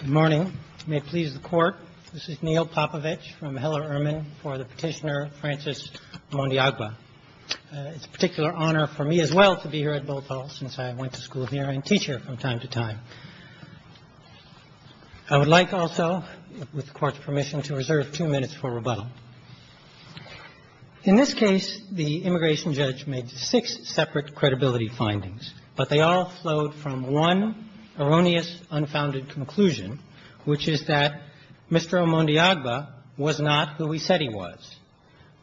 Good morning. May it please the Court, this is Neil Popovich from Heller-Urman for the petitioner Francis Mondiagaba. It's a particular honor for me as well to be here at Botol since I went to school here and teach here from time to time. I would like also, with the Court's permission, to reserve two minutes for rebuttal. In this case, the immigration erroneous, unfounded conclusion, which is that Mr. Mondiagaba was not who he said he was.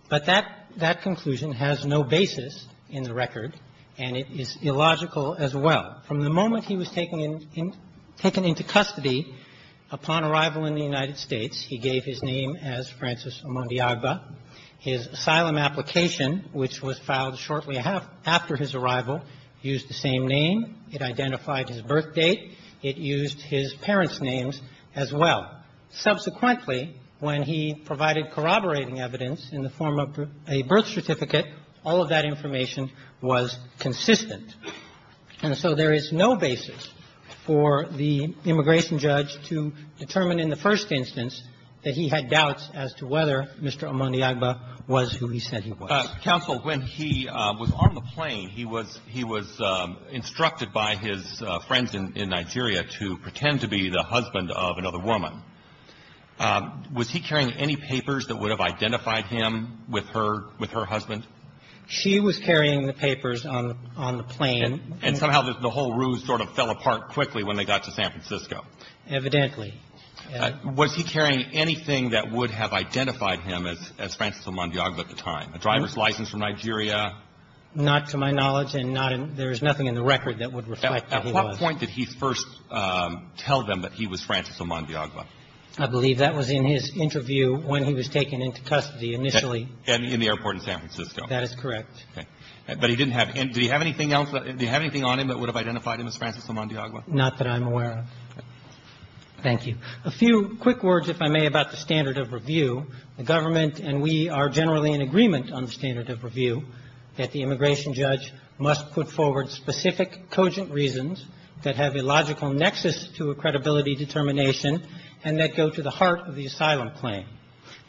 But that conclusion has no basis in the record, and it is illogical as well. From the moment he was taken into custody upon arrival in the United States, he gave his name as Francis Mondiagaba. His asylum application, which was filed shortly after his arrival, used the same name. It identified his birth date. It used his parents' names as well. Subsequently, when he provided corroborating evidence in the form of a birth certificate, all of that information was consistent. And so there is no basis for the immigration judge to determine in the first instance that he had doubts as to whether Mr. Mondiagaba was who he said he was. Counsel, when he was on the plane, he was instructed by his friends in Nigeria to pretend to be the husband of another woman. Was he carrying any papers that would have identified him with her husband? She was carrying the papers on the plane. And somehow the whole ruse sort of fell apart quickly when they got to San Francisco. Evidently. Was he carrying anything that would have identified him as Francis Mondiagaba at the time, a driver's license from Nigeria? Not to my knowledge and not in – there is nothing in the record that would reflect that he was. At what point did he first tell them that he was Francis Mondiagaba? I believe that was in his interview when he was taken into custody initially. In the airport in San Francisco. That is correct. Okay. But he didn't have – did he have anything else – did he have anything on him that would have identified him as Francis Mondiagaba? Not that I'm aware of. Thank you. A few quick words, if I may, about the standard of review. The government and we are generally in agreement on the standard of review that the immigration judge must put forward specific, cogent reasons that have a logical nexus to a credibility determination and that go to the heart of the asylum claim.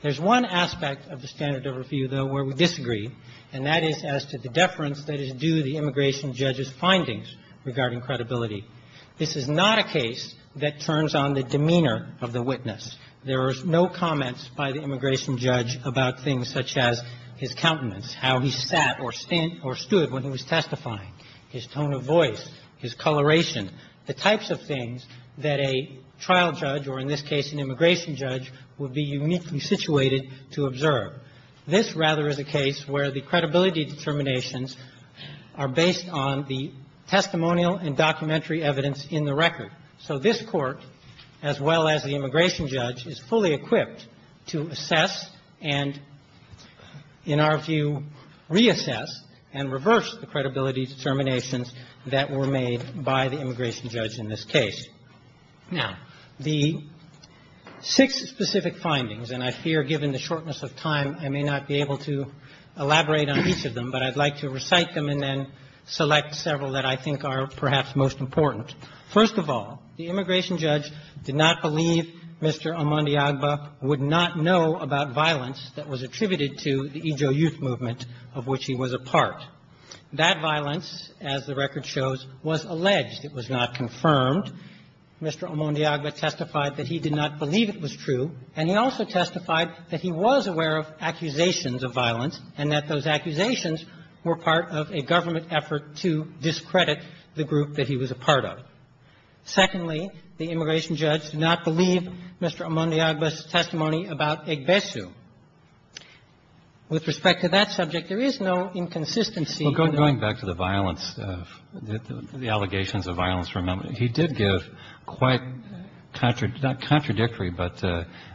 There's one aspect of the standard of review, though, where we disagree, and that is as to the deference that is due the immigration judge's findings regarding credibility. This is not a case that turns on the demeanor of the witness. There is no comment by the immigration judge about things such as his countenance, how he sat or stood when he was testifying, his tone of voice, his coloration, the types of things that a trial judge, or in this case an immigration judge, would be uniquely situated to observe. This rather is a case where the credibility determinations are based on the testimonial and documentary evidence in the record. So this Court, as well as the immigration judge, is fully equipped to assess and, in our view, reassess and reverse the credibility determinations that were made by the immigration judge in this case. Now, the six specific findings, and I fear given the shortness of time, I may not be able to elaborate on each of them, but I'd like to recite them and then select several that I think are perhaps most important. First of all, the immigration judge did not believe Mr. Amandi Agba would not know about violence that was attributed to the Ijo Youth Movement, of which he was a part. That violence, as the record shows, was alleged. It was not confirmed. Mr. Amandi Agba testified that he did not believe it was true, and he also testified that he was aware of accusations of violence and that those accusations were part of a government effort to discredit the group that he was a part of. Secondly, the immigration judge did not believe Mr. Amandi Agba's testimony about Egbesu. With respect to that subject, there is no inconsistency. Well, going back to the allegations of violence from him, he did give quite contradictory but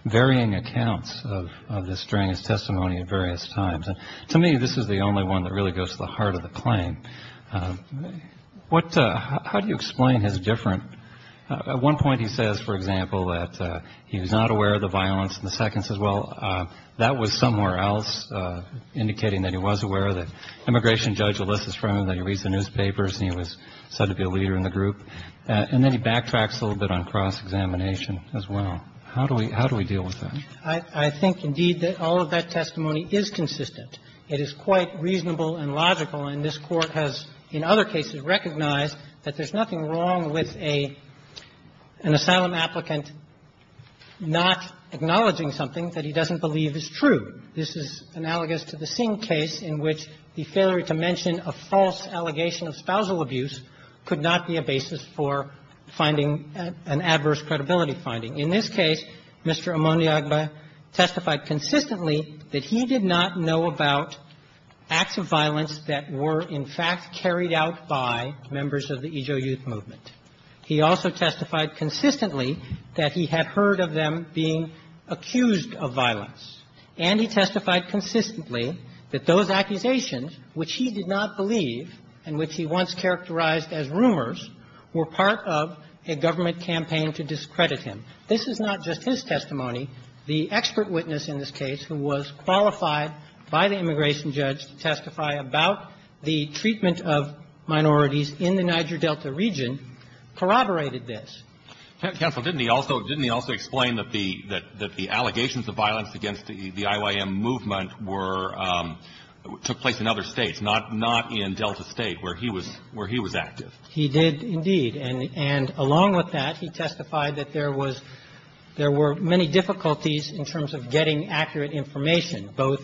varying accounts of this during his testimony at various times. To me, this is the only one that really goes to the heart of the claim. How do you explain his difference? At one point he says, for example, that he was not aware of the violence, and the second says, well, that was somewhere else indicating that he was aware of it. Immigration judge Alyssa's friend, he reads the newspapers and he was said to be a leader in the group. And then he backtracks a little bit on cross-examination as well. How do we deal with that? I think, indeed, that all of that testimony is consistent. It is quite reasonable and logical, and this Court has, in other cases, recognized that there's nothing wrong with an asylum applicant not acknowledging something that he doesn't believe is true. This is analogous to the Singh case in which the failure to mention a false allegation of spousal abuse could not be a basis for finding an adverse credibility finding. In this case, Mr. Amaniagba testified consistently that he did not know about acts of violence that were, in fact, carried out by members of the Ejo Youth Movement. He also testified consistently that he had heard of them being accused of violence, and he testified consistently that those accusations, which he did not believe and which he once characterized as rumors, were part of a government campaign to discredit him. This is not just his testimony. The expert witness in this case, who was qualified by the immigration judge to testify about the treatment of minorities in the Niger Delta region, corroborated this. Counsel, didn't he also explain that the allegations of violence against the IYM movement were took place in other states, not in Delta State, where he was active? He did, indeed. And along with that, he testified that there was – there were many difficulties in terms of getting accurate information, both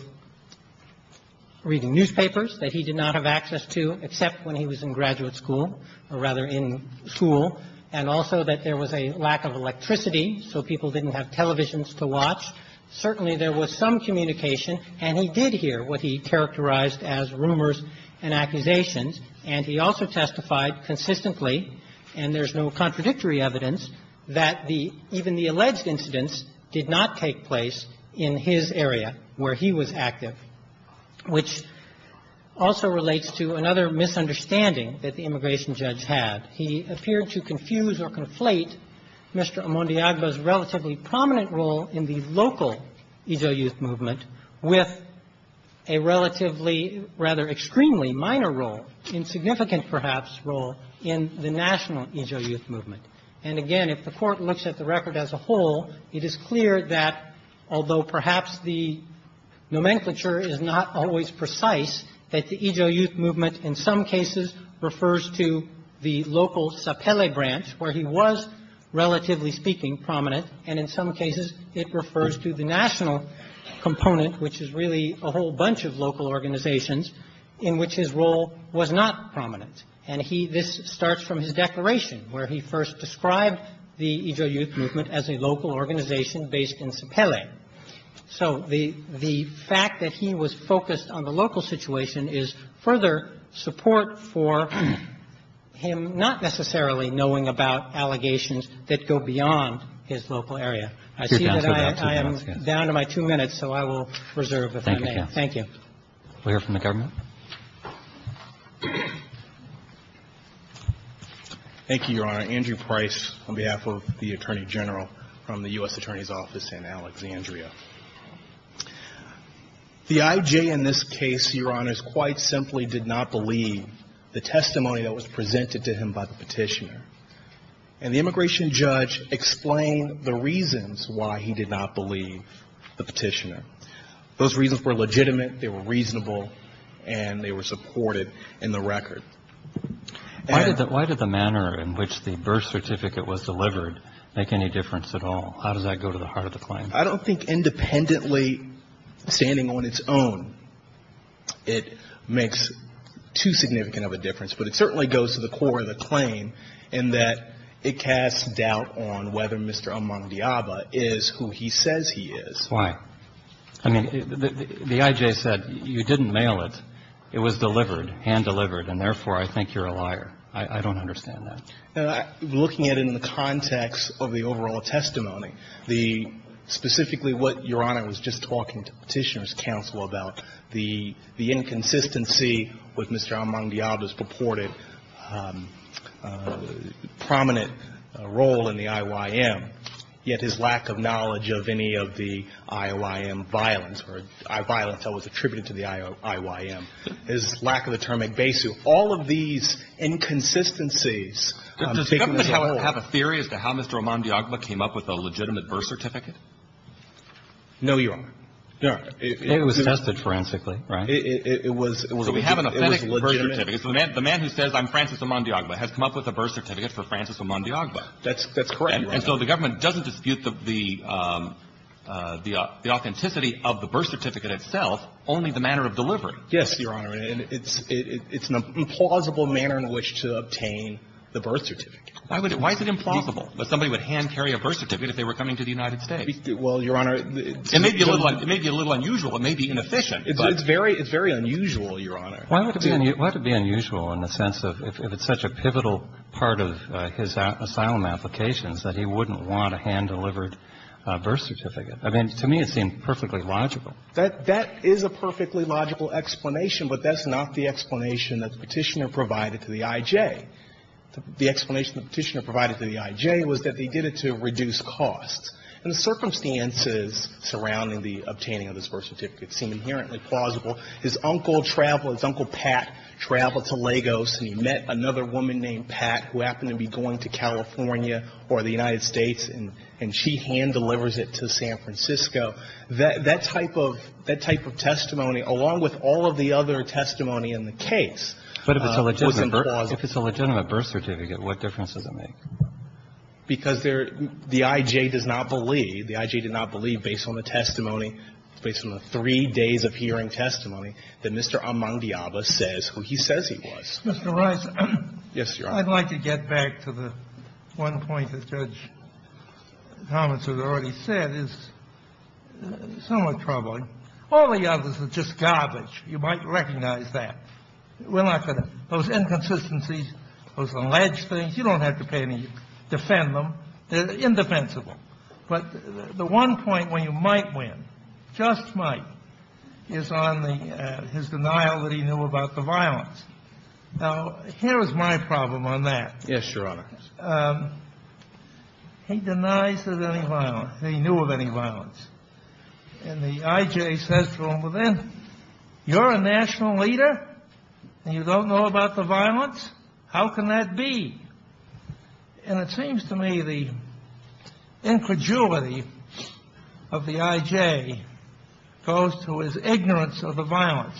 reading newspapers that he did not have access to except when he was in graduate school, or rather in school, and also that there was a lack of electricity, so people didn't have televisions to watch. Certainly there was some communication, and he did hear what he characterized as rumors and accusations, and he also testified consistently, and there's no contradictory evidence, that the – even the alleged incidents did not take place in his area where he was active, which also relates to another misunderstanding that the immigration judge had. He appeared to confuse or conflate Mr. Amondiaga's relatively prominent role in the local Ijo youth movement with a relatively, rather extremely minor role, insignificant perhaps, role in the national Ijo youth movement. And again, if the Court looks at the record as a whole, it is clear that, although perhaps the nomenclature is not always precise, that the Ijo youth movement in some cases refers to the local Sapele branch, where he was, relatively speaking, prominent, and in some cases it refers to the national component, which is really a whole bunch of local organizations in which his role was not prominent. And he – this starts from his declaration, where he first described the Ijo youth movement as a local organization based in Sapele. So the fact that he was focused on the local situation is further support for him not necessarily knowing about allegations that go beyond his local area. I see that I am down to my two minutes, so I will reserve if I may. Thank you. We'll hear from the government. Thank you, Your Honor. Andrew Price on behalf of the Attorney General from the U.S. Attorney's Office in Alexandria. The Ijo in this case, Your Honors, quite simply did not believe the testimony that was presented to him by the petitioner. And the immigration judge explained the reasons why he did not believe the petitioner. Those reasons were legitimate, they were reasonable, and they were supported in the record. Why did the manner in which the birth certificate was delivered make any difference at all? How does that go to the heart of the claim? I don't think independently, standing on its own, it makes too significant of a difference. But it certainly goes to the core of the claim in that it casts doubt on whether Mr. Amandiaba is who he says he is. That's why. I mean, the I.J. said, you didn't mail it. It was delivered, hand-delivered, and therefore, I think you're a liar. I don't understand that. Looking at it in the context of the overall testimony, specifically what Your Honor was just talking to Petitioner's counsel about, the inconsistency with Mr. Amandiaba's I.Y.M. violence, or violence that was attributed to the I.Y.M., his lack of a termic base, all of these inconsistencies. Does the government have a theory as to how Mr. Amandiaba came up with a legitimate birth certificate? No, Your Honor. It was tested forensically, right? It was legitimate. So we have an authentic birth certificate. So the man who says I'm Francis Amandiaba has come up with a birth certificate for Francis Amandiaba. That's correct, Your Honor. And so the government doesn't dispute the authenticity of the birth certificate itself, only the manner of delivery. Yes, Your Honor. And it's an implausible manner in which to obtain the birth certificate. Why is it implausible that somebody would hand-carry a birth certificate if they were coming to the United States? Well, Your Honor, it's a little unusual. It may be inefficient. It's very unusual, Your Honor. Why would it be unusual in the sense of if it's such a pivotal part of his asylum applications that he wouldn't want a hand-delivered birth certificate? I mean, to me it seemed perfectly logical. That is a perfectly logical explanation, but that's not the explanation that the Petitioner provided to the I.J. The explanation the Petitioner provided to the I.J. was that they did it to reduce costs. And the circumstances surrounding the obtaining of this birth certificate seem inherently plausible. His uncle traveled, his Uncle Pat traveled to Lagos, and he met another woman named Pat who happened to be going to California or the United States, and she hand-delivers it to San Francisco. That type of testimony, along with all of the other testimony in the case, was implausible. But if it's a legitimate birth certificate, what difference does it make? Because the I.J. does not believe, the I.J. did not believe based on the testimony, based on the three days of hearing testimony, that Mr. Amandiaba says who he says he was. Mr. Rice. Yes, Your Honor. I'd like to get back to the one point that Judge Thomas has already said is somewhat troubling. All the others are just garbage. You might recognize that. We're not going to — those inconsistencies, those alleged things, you don't have to pay any — defend them. They're indefensible. But the one point where you might win, just might, is on the — his denial that he knew about the violence. Now, here is my problem on that. Yes, Your Honor. He denies that any violence — that he knew of any violence. And the I.J. says to him, well, then, you're a national leader, and you don't know about the violence? How can that be? And it seems to me the incredulity of the I.J. goes to his ignorance of the violence.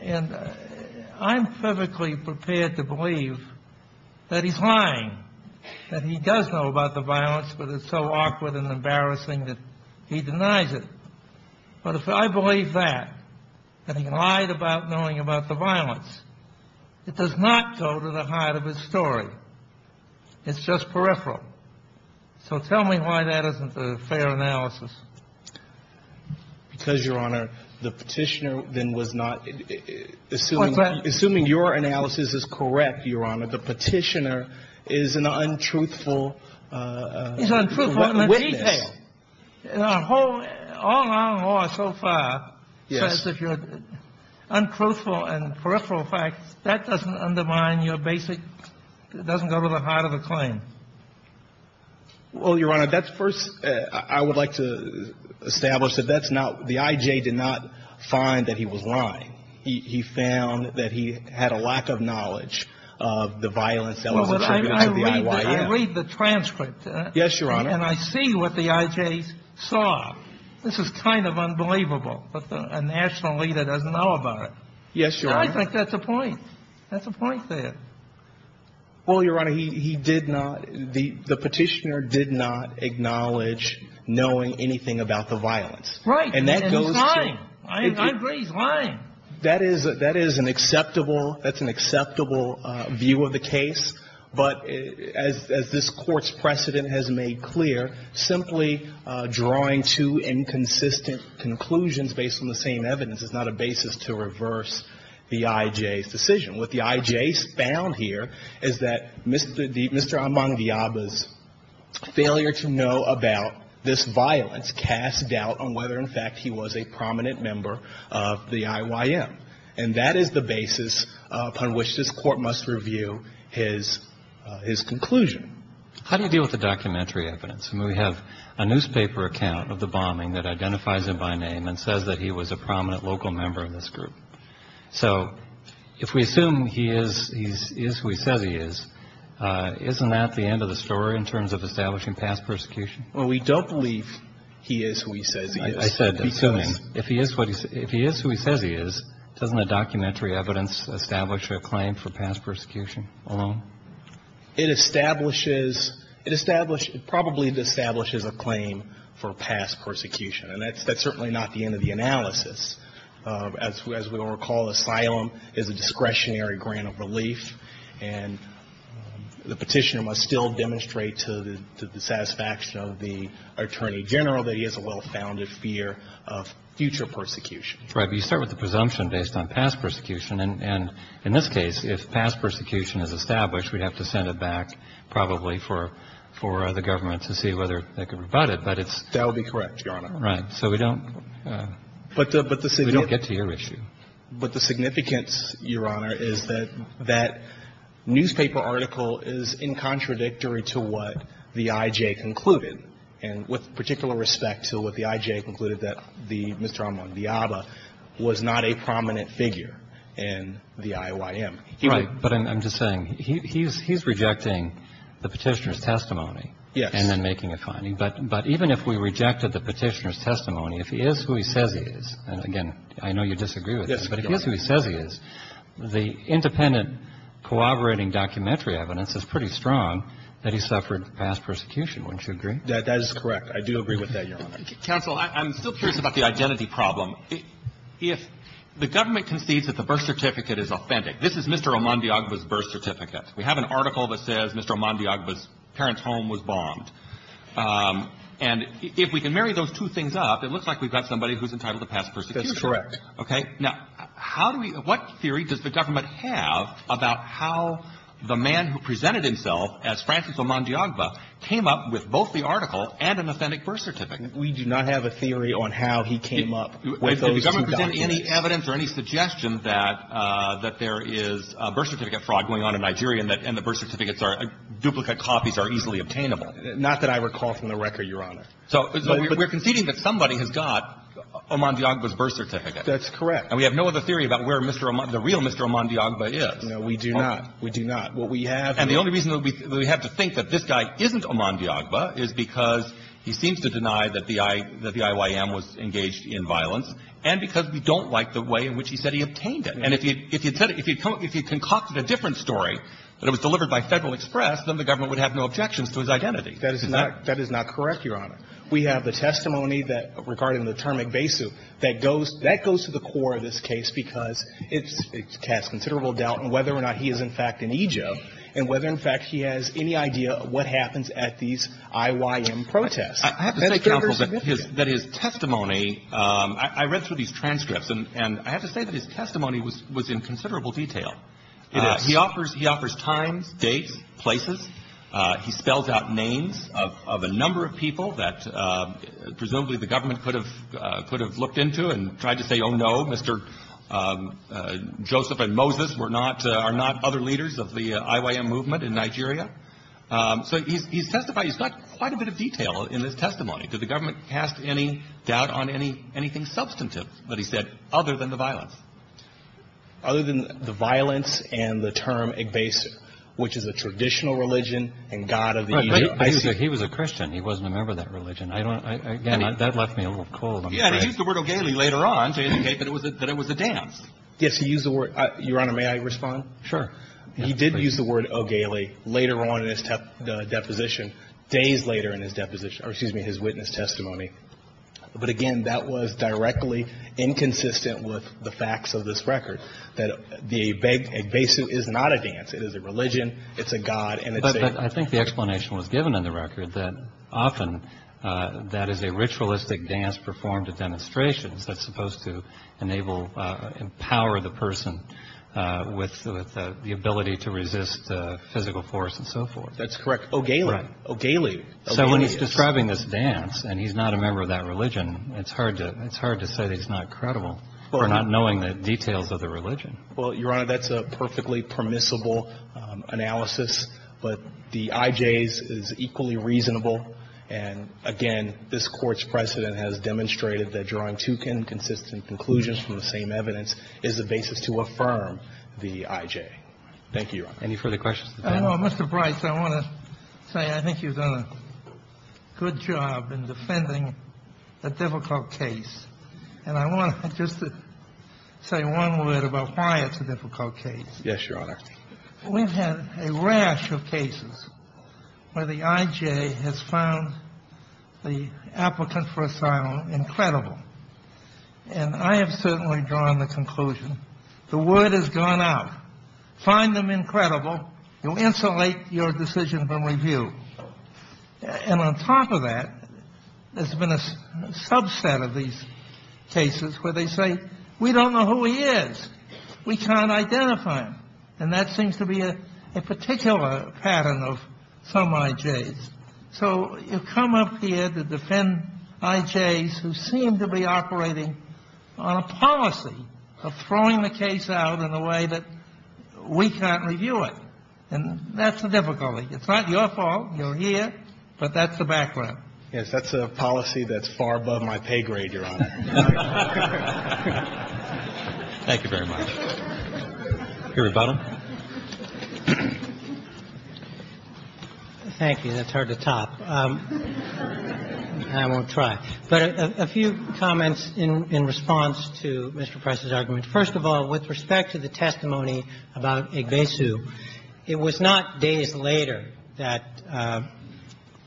And I'm perfectly prepared to believe that he's lying, that he does know about the violence, but it's so awkward and embarrassing that he denies it. But if I believe that, that he lied about knowing about the violence, it does not go to the heart of his story. It's just peripheral. So tell me why that isn't a fair analysis. Because, Your Honor, the Petitioner then was not — Assuming — Assuming your analysis is correct, Your Honor, the Petitioner is an untruthful witness. He's untruthful. All our law so far says if you're untruthful and peripheral facts, that doesn't undermine your basic — doesn't go to the heart of the claim. Well, Your Honor, that's first — I would like to establish that that's not — the I.J. did not find that he was lying. He found that he had a lack of knowledge of the violence that was attributed to the I.Y.M. I read the transcript. Yes, Your Honor. And I see what the I.J. saw. This is kind of unbelievable that a national leader doesn't know about it. Yes, Your Honor. And I think that's a point. That's a point there. Well, Your Honor, he did not — the Petitioner did not acknowledge knowing anything about the violence. Right. And that goes to — And he's lying. I agree he's lying. That is an acceptable — that's an acceptable view of the case. But as this Court's precedent has made clear, simply drawing two inconsistent conclusions based on the same evidence is not a basis to reverse the I.J.'s decision. What the I.J. found here is that Mr. Amandiaba's failure to know about this violence casts doubt on whether, in fact, he was a prominent member of the I.Y.M. And that is the basis upon which this Court must review his — his conclusion. How do you deal with the documentary evidence? I mean, we have a newspaper account of the bombing that identifies him by name and says that he was a prominent local member of this group. So if we assume he is — he is who he says he is, isn't that the end of the story in terms of establishing past persecution? Well, we don't believe he is who he says he is. I said assuming. Because — If he is what he — if he is who he says he is, doesn't the documentary evidence establish a claim for past persecution alone? It establishes — it establishes — it probably establishes a claim for past persecution. And that's certainly not the end of the analysis. As we all recall, asylum is a discretionary grant of relief. And the Petitioner must still demonstrate to the satisfaction of the Attorney General that he has a well-founded fear of future persecution. Right. But you start with the presumption based on past persecution. And in this case, if past persecution is established, we'd have to send it back probably for the government to see whether they can rebut it. But it's — That would be correct, Your Honor. Right. So we don't — But the — We don't get to your issue. But the significance, Your Honor, is that that newspaper article is incontradictory to what the I.J. concluded, and with particular respect to what the I.J. concluded that the — Mr. Ahmad Diaba was not a prominent figure in the IYM. Right. But I'm just saying, he's — he's rejecting the Petitioner's testimony. Yes. And then making a finding. But — but even if we rejected the Petitioner's testimony, if he is who he says he is — and, again, I know you disagree with this — Yes. But if he is who he says he is, the independent, corroborating documentary evidence is pretty strong that he suffered past persecution. Wouldn't you agree? That is correct. I do agree with that, Your Honor. Counsel, I'm still curious about the identity problem. If the government concedes that the birth certificate is authentic — this is Mr. Ahmad Diaba's birth certificate. We have an article that says Mr. Ahmad Diaba's parents' home was bombed. And if we can marry those two things up, it looks like we've got somebody who's entitled to past persecution. That's correct. Okay? Now, how do we — what theory does the government have about how the man who presented himself as Francis Ahmad Diaba came up with both the article and an authentic birth certificate? If the government presents any evidence or any suggestion that — that there is a birth certificate fraud going on in Nigeria and that — and the birth certificates are — duplicate copies are easily obtainable. Not that I recall from the record, Your Honor. So we're conceding that somebody has got Ahmad Diaba's birth certificate. That's correct. And we have no other theory about where Mr. — the real Mr. Ahmad Diaba is. No, we do not. We do not. What we have — And the only reason that we have to think that this guy isn't Ahmad Diaba is because he seems to deny that the I — that the IYM was engaged in violence, and because we don't like the way in which he said he obtained it. And if he — if he had said it — if he had concocted a different story, that it was delivered by Federal Express, then the government would have no objections to his identity. That is not — that is not correct, Your Honor. We have the testimony that — regarding the term iqbesu, that goes — that goes to the core of this case because it's — it has considerable doubt in whether or not he is, in fact, an Ijeb, and whether, in fact, he has any idea of what happens at these IYM protests. I have to say, counsel, that his — that his testimony — I read through these transcripts, and I have to say that his testimony was in considerable detail. It is. He offers — he offers times, dates, places. He spells out names of a number of people that presumably the government could have — could have looked into and tried to say, oh, no, Mr. Joseph and Moses were not — are not other leaders of the IYM movement in Nigeria. So he's testified. He's got quite a bit of detail in his testimony. Did the government cast any doubt on any — anything substantive that he said, other than the violence? Other than the violence and the term iqbesu, which is a traditional religion and god of the — Right. But he was a Christian. He wasn't a member of that religion. I don't — again, that left me a little cold, I'm afraid. Yeah. And he used the word ogele later on to indicate that it was a — that it was a dance. Yes. He used the word — Your Honor, may I respond? He did use the word ogele later on in his deposition, days later in his deposition — or excuse me, his witness testimony. But again, that was directly inconsistent with the facts of this record, that the iqbesu is not a dance. It is a religion. It's a god. And it's a — But I think the explanation was given in the record that often that is a ritualistic dance that's supposed to enable — empower the person with the ability to resist physical force and so forth. That's correct. Ogele. Right. Ogele. Ogele is — So when he's describing this dance and he's not a member of that religion, it's hard to — it's hard to say that he's not credible for not knowing the details of the religion. Well, Your Honor, that's a perfectly permissible analysis. But the ij's is equally reasonable. And again, this Court's precedent has demonstrated that drawing two inconsistent conclusions from the same evidence is the basis to affirm the ij. Thank you, Your Honor. Any further questions? Mr. Bryce, I want to say I think you've done a good job in defending a difficult case. And I want to just say one word about why it's a difficult case. Yes, Your Honor. We've had a rash of cases where the ij has found the applicant for asylum incredible. And I have certainly drawn the conclusion the word has gone out. Find them incredible. You'll insulate your decision from review. And on top of that, there's been a subset of these cases where they say, we don't know who he is. We can't identify him. And that seems to be a particular pattern of some ij's. So you come up here to defend ij's who seem to be operating on a policy of throwing the case out in a way that we can't review it. And that's the difficulty. It's not your fault. You're here. But that's the background. Yes, that's a policy that's far above my pay grade, Your Honor. Thank you very much. Your rebuttal. Thank you. That's hard to top. I won't try. But a few comments in response to Mr. Price's argument. First of all, with respect to the testimony about ij besu, it was not days later that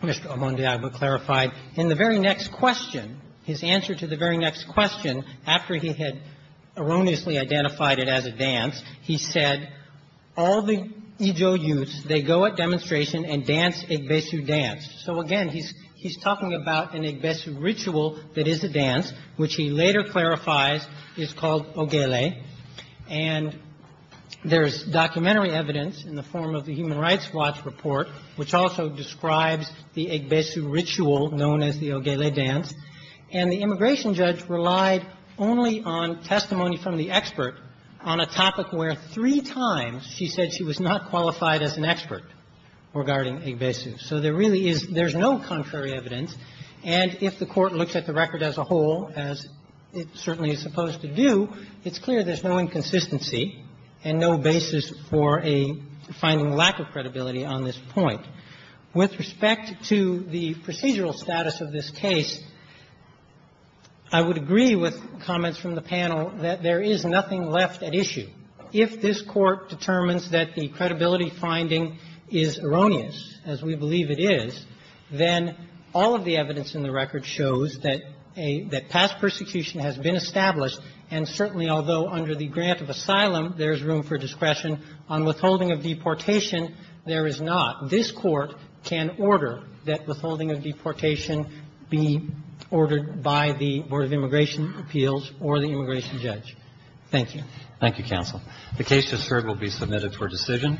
Mr. Omondiagwa clarified. In the very next question, his answer to the very next question, after he had erroneously identified it as a dance, he said, all the ijo youths, they go at demonstration and dance ij besu dance. So, again, he's talking about an ij besu ritual that is a dance, which he later clarifies is called ogele. And there's documentary evidence in the form of the Human Rights Watch report, which also describes the ij besu ritual known as the ogele dance. And the immigration judge relied only on testimony from the expert on a topic where three times she said she was not qualified as an expert regarding ij besu. So there really is no contrary evidence. And if the Court looks at the record as a whole, as it certainly is supposed to do, it's clear there's no inconsistency and no basis for a finding lack of credibility on this point. With respect to the procedural status of this case, I would agree with comments from the panel that there is nothing left at issue. If this Court determines that the credibility finding is erroneous, as we believe it is, then all of the evidence in the record shows that a — that past persecution has been established. And certainly, although under the grant of asylum there's room for discretion on withholding of deportation, there is not. This Court can order that withholding of deportation be ordered by the Board of Immigration Appeals or the immigration judge. Thank you. Roberts. Thank you, counsel. The case just heard will be submitted for decision.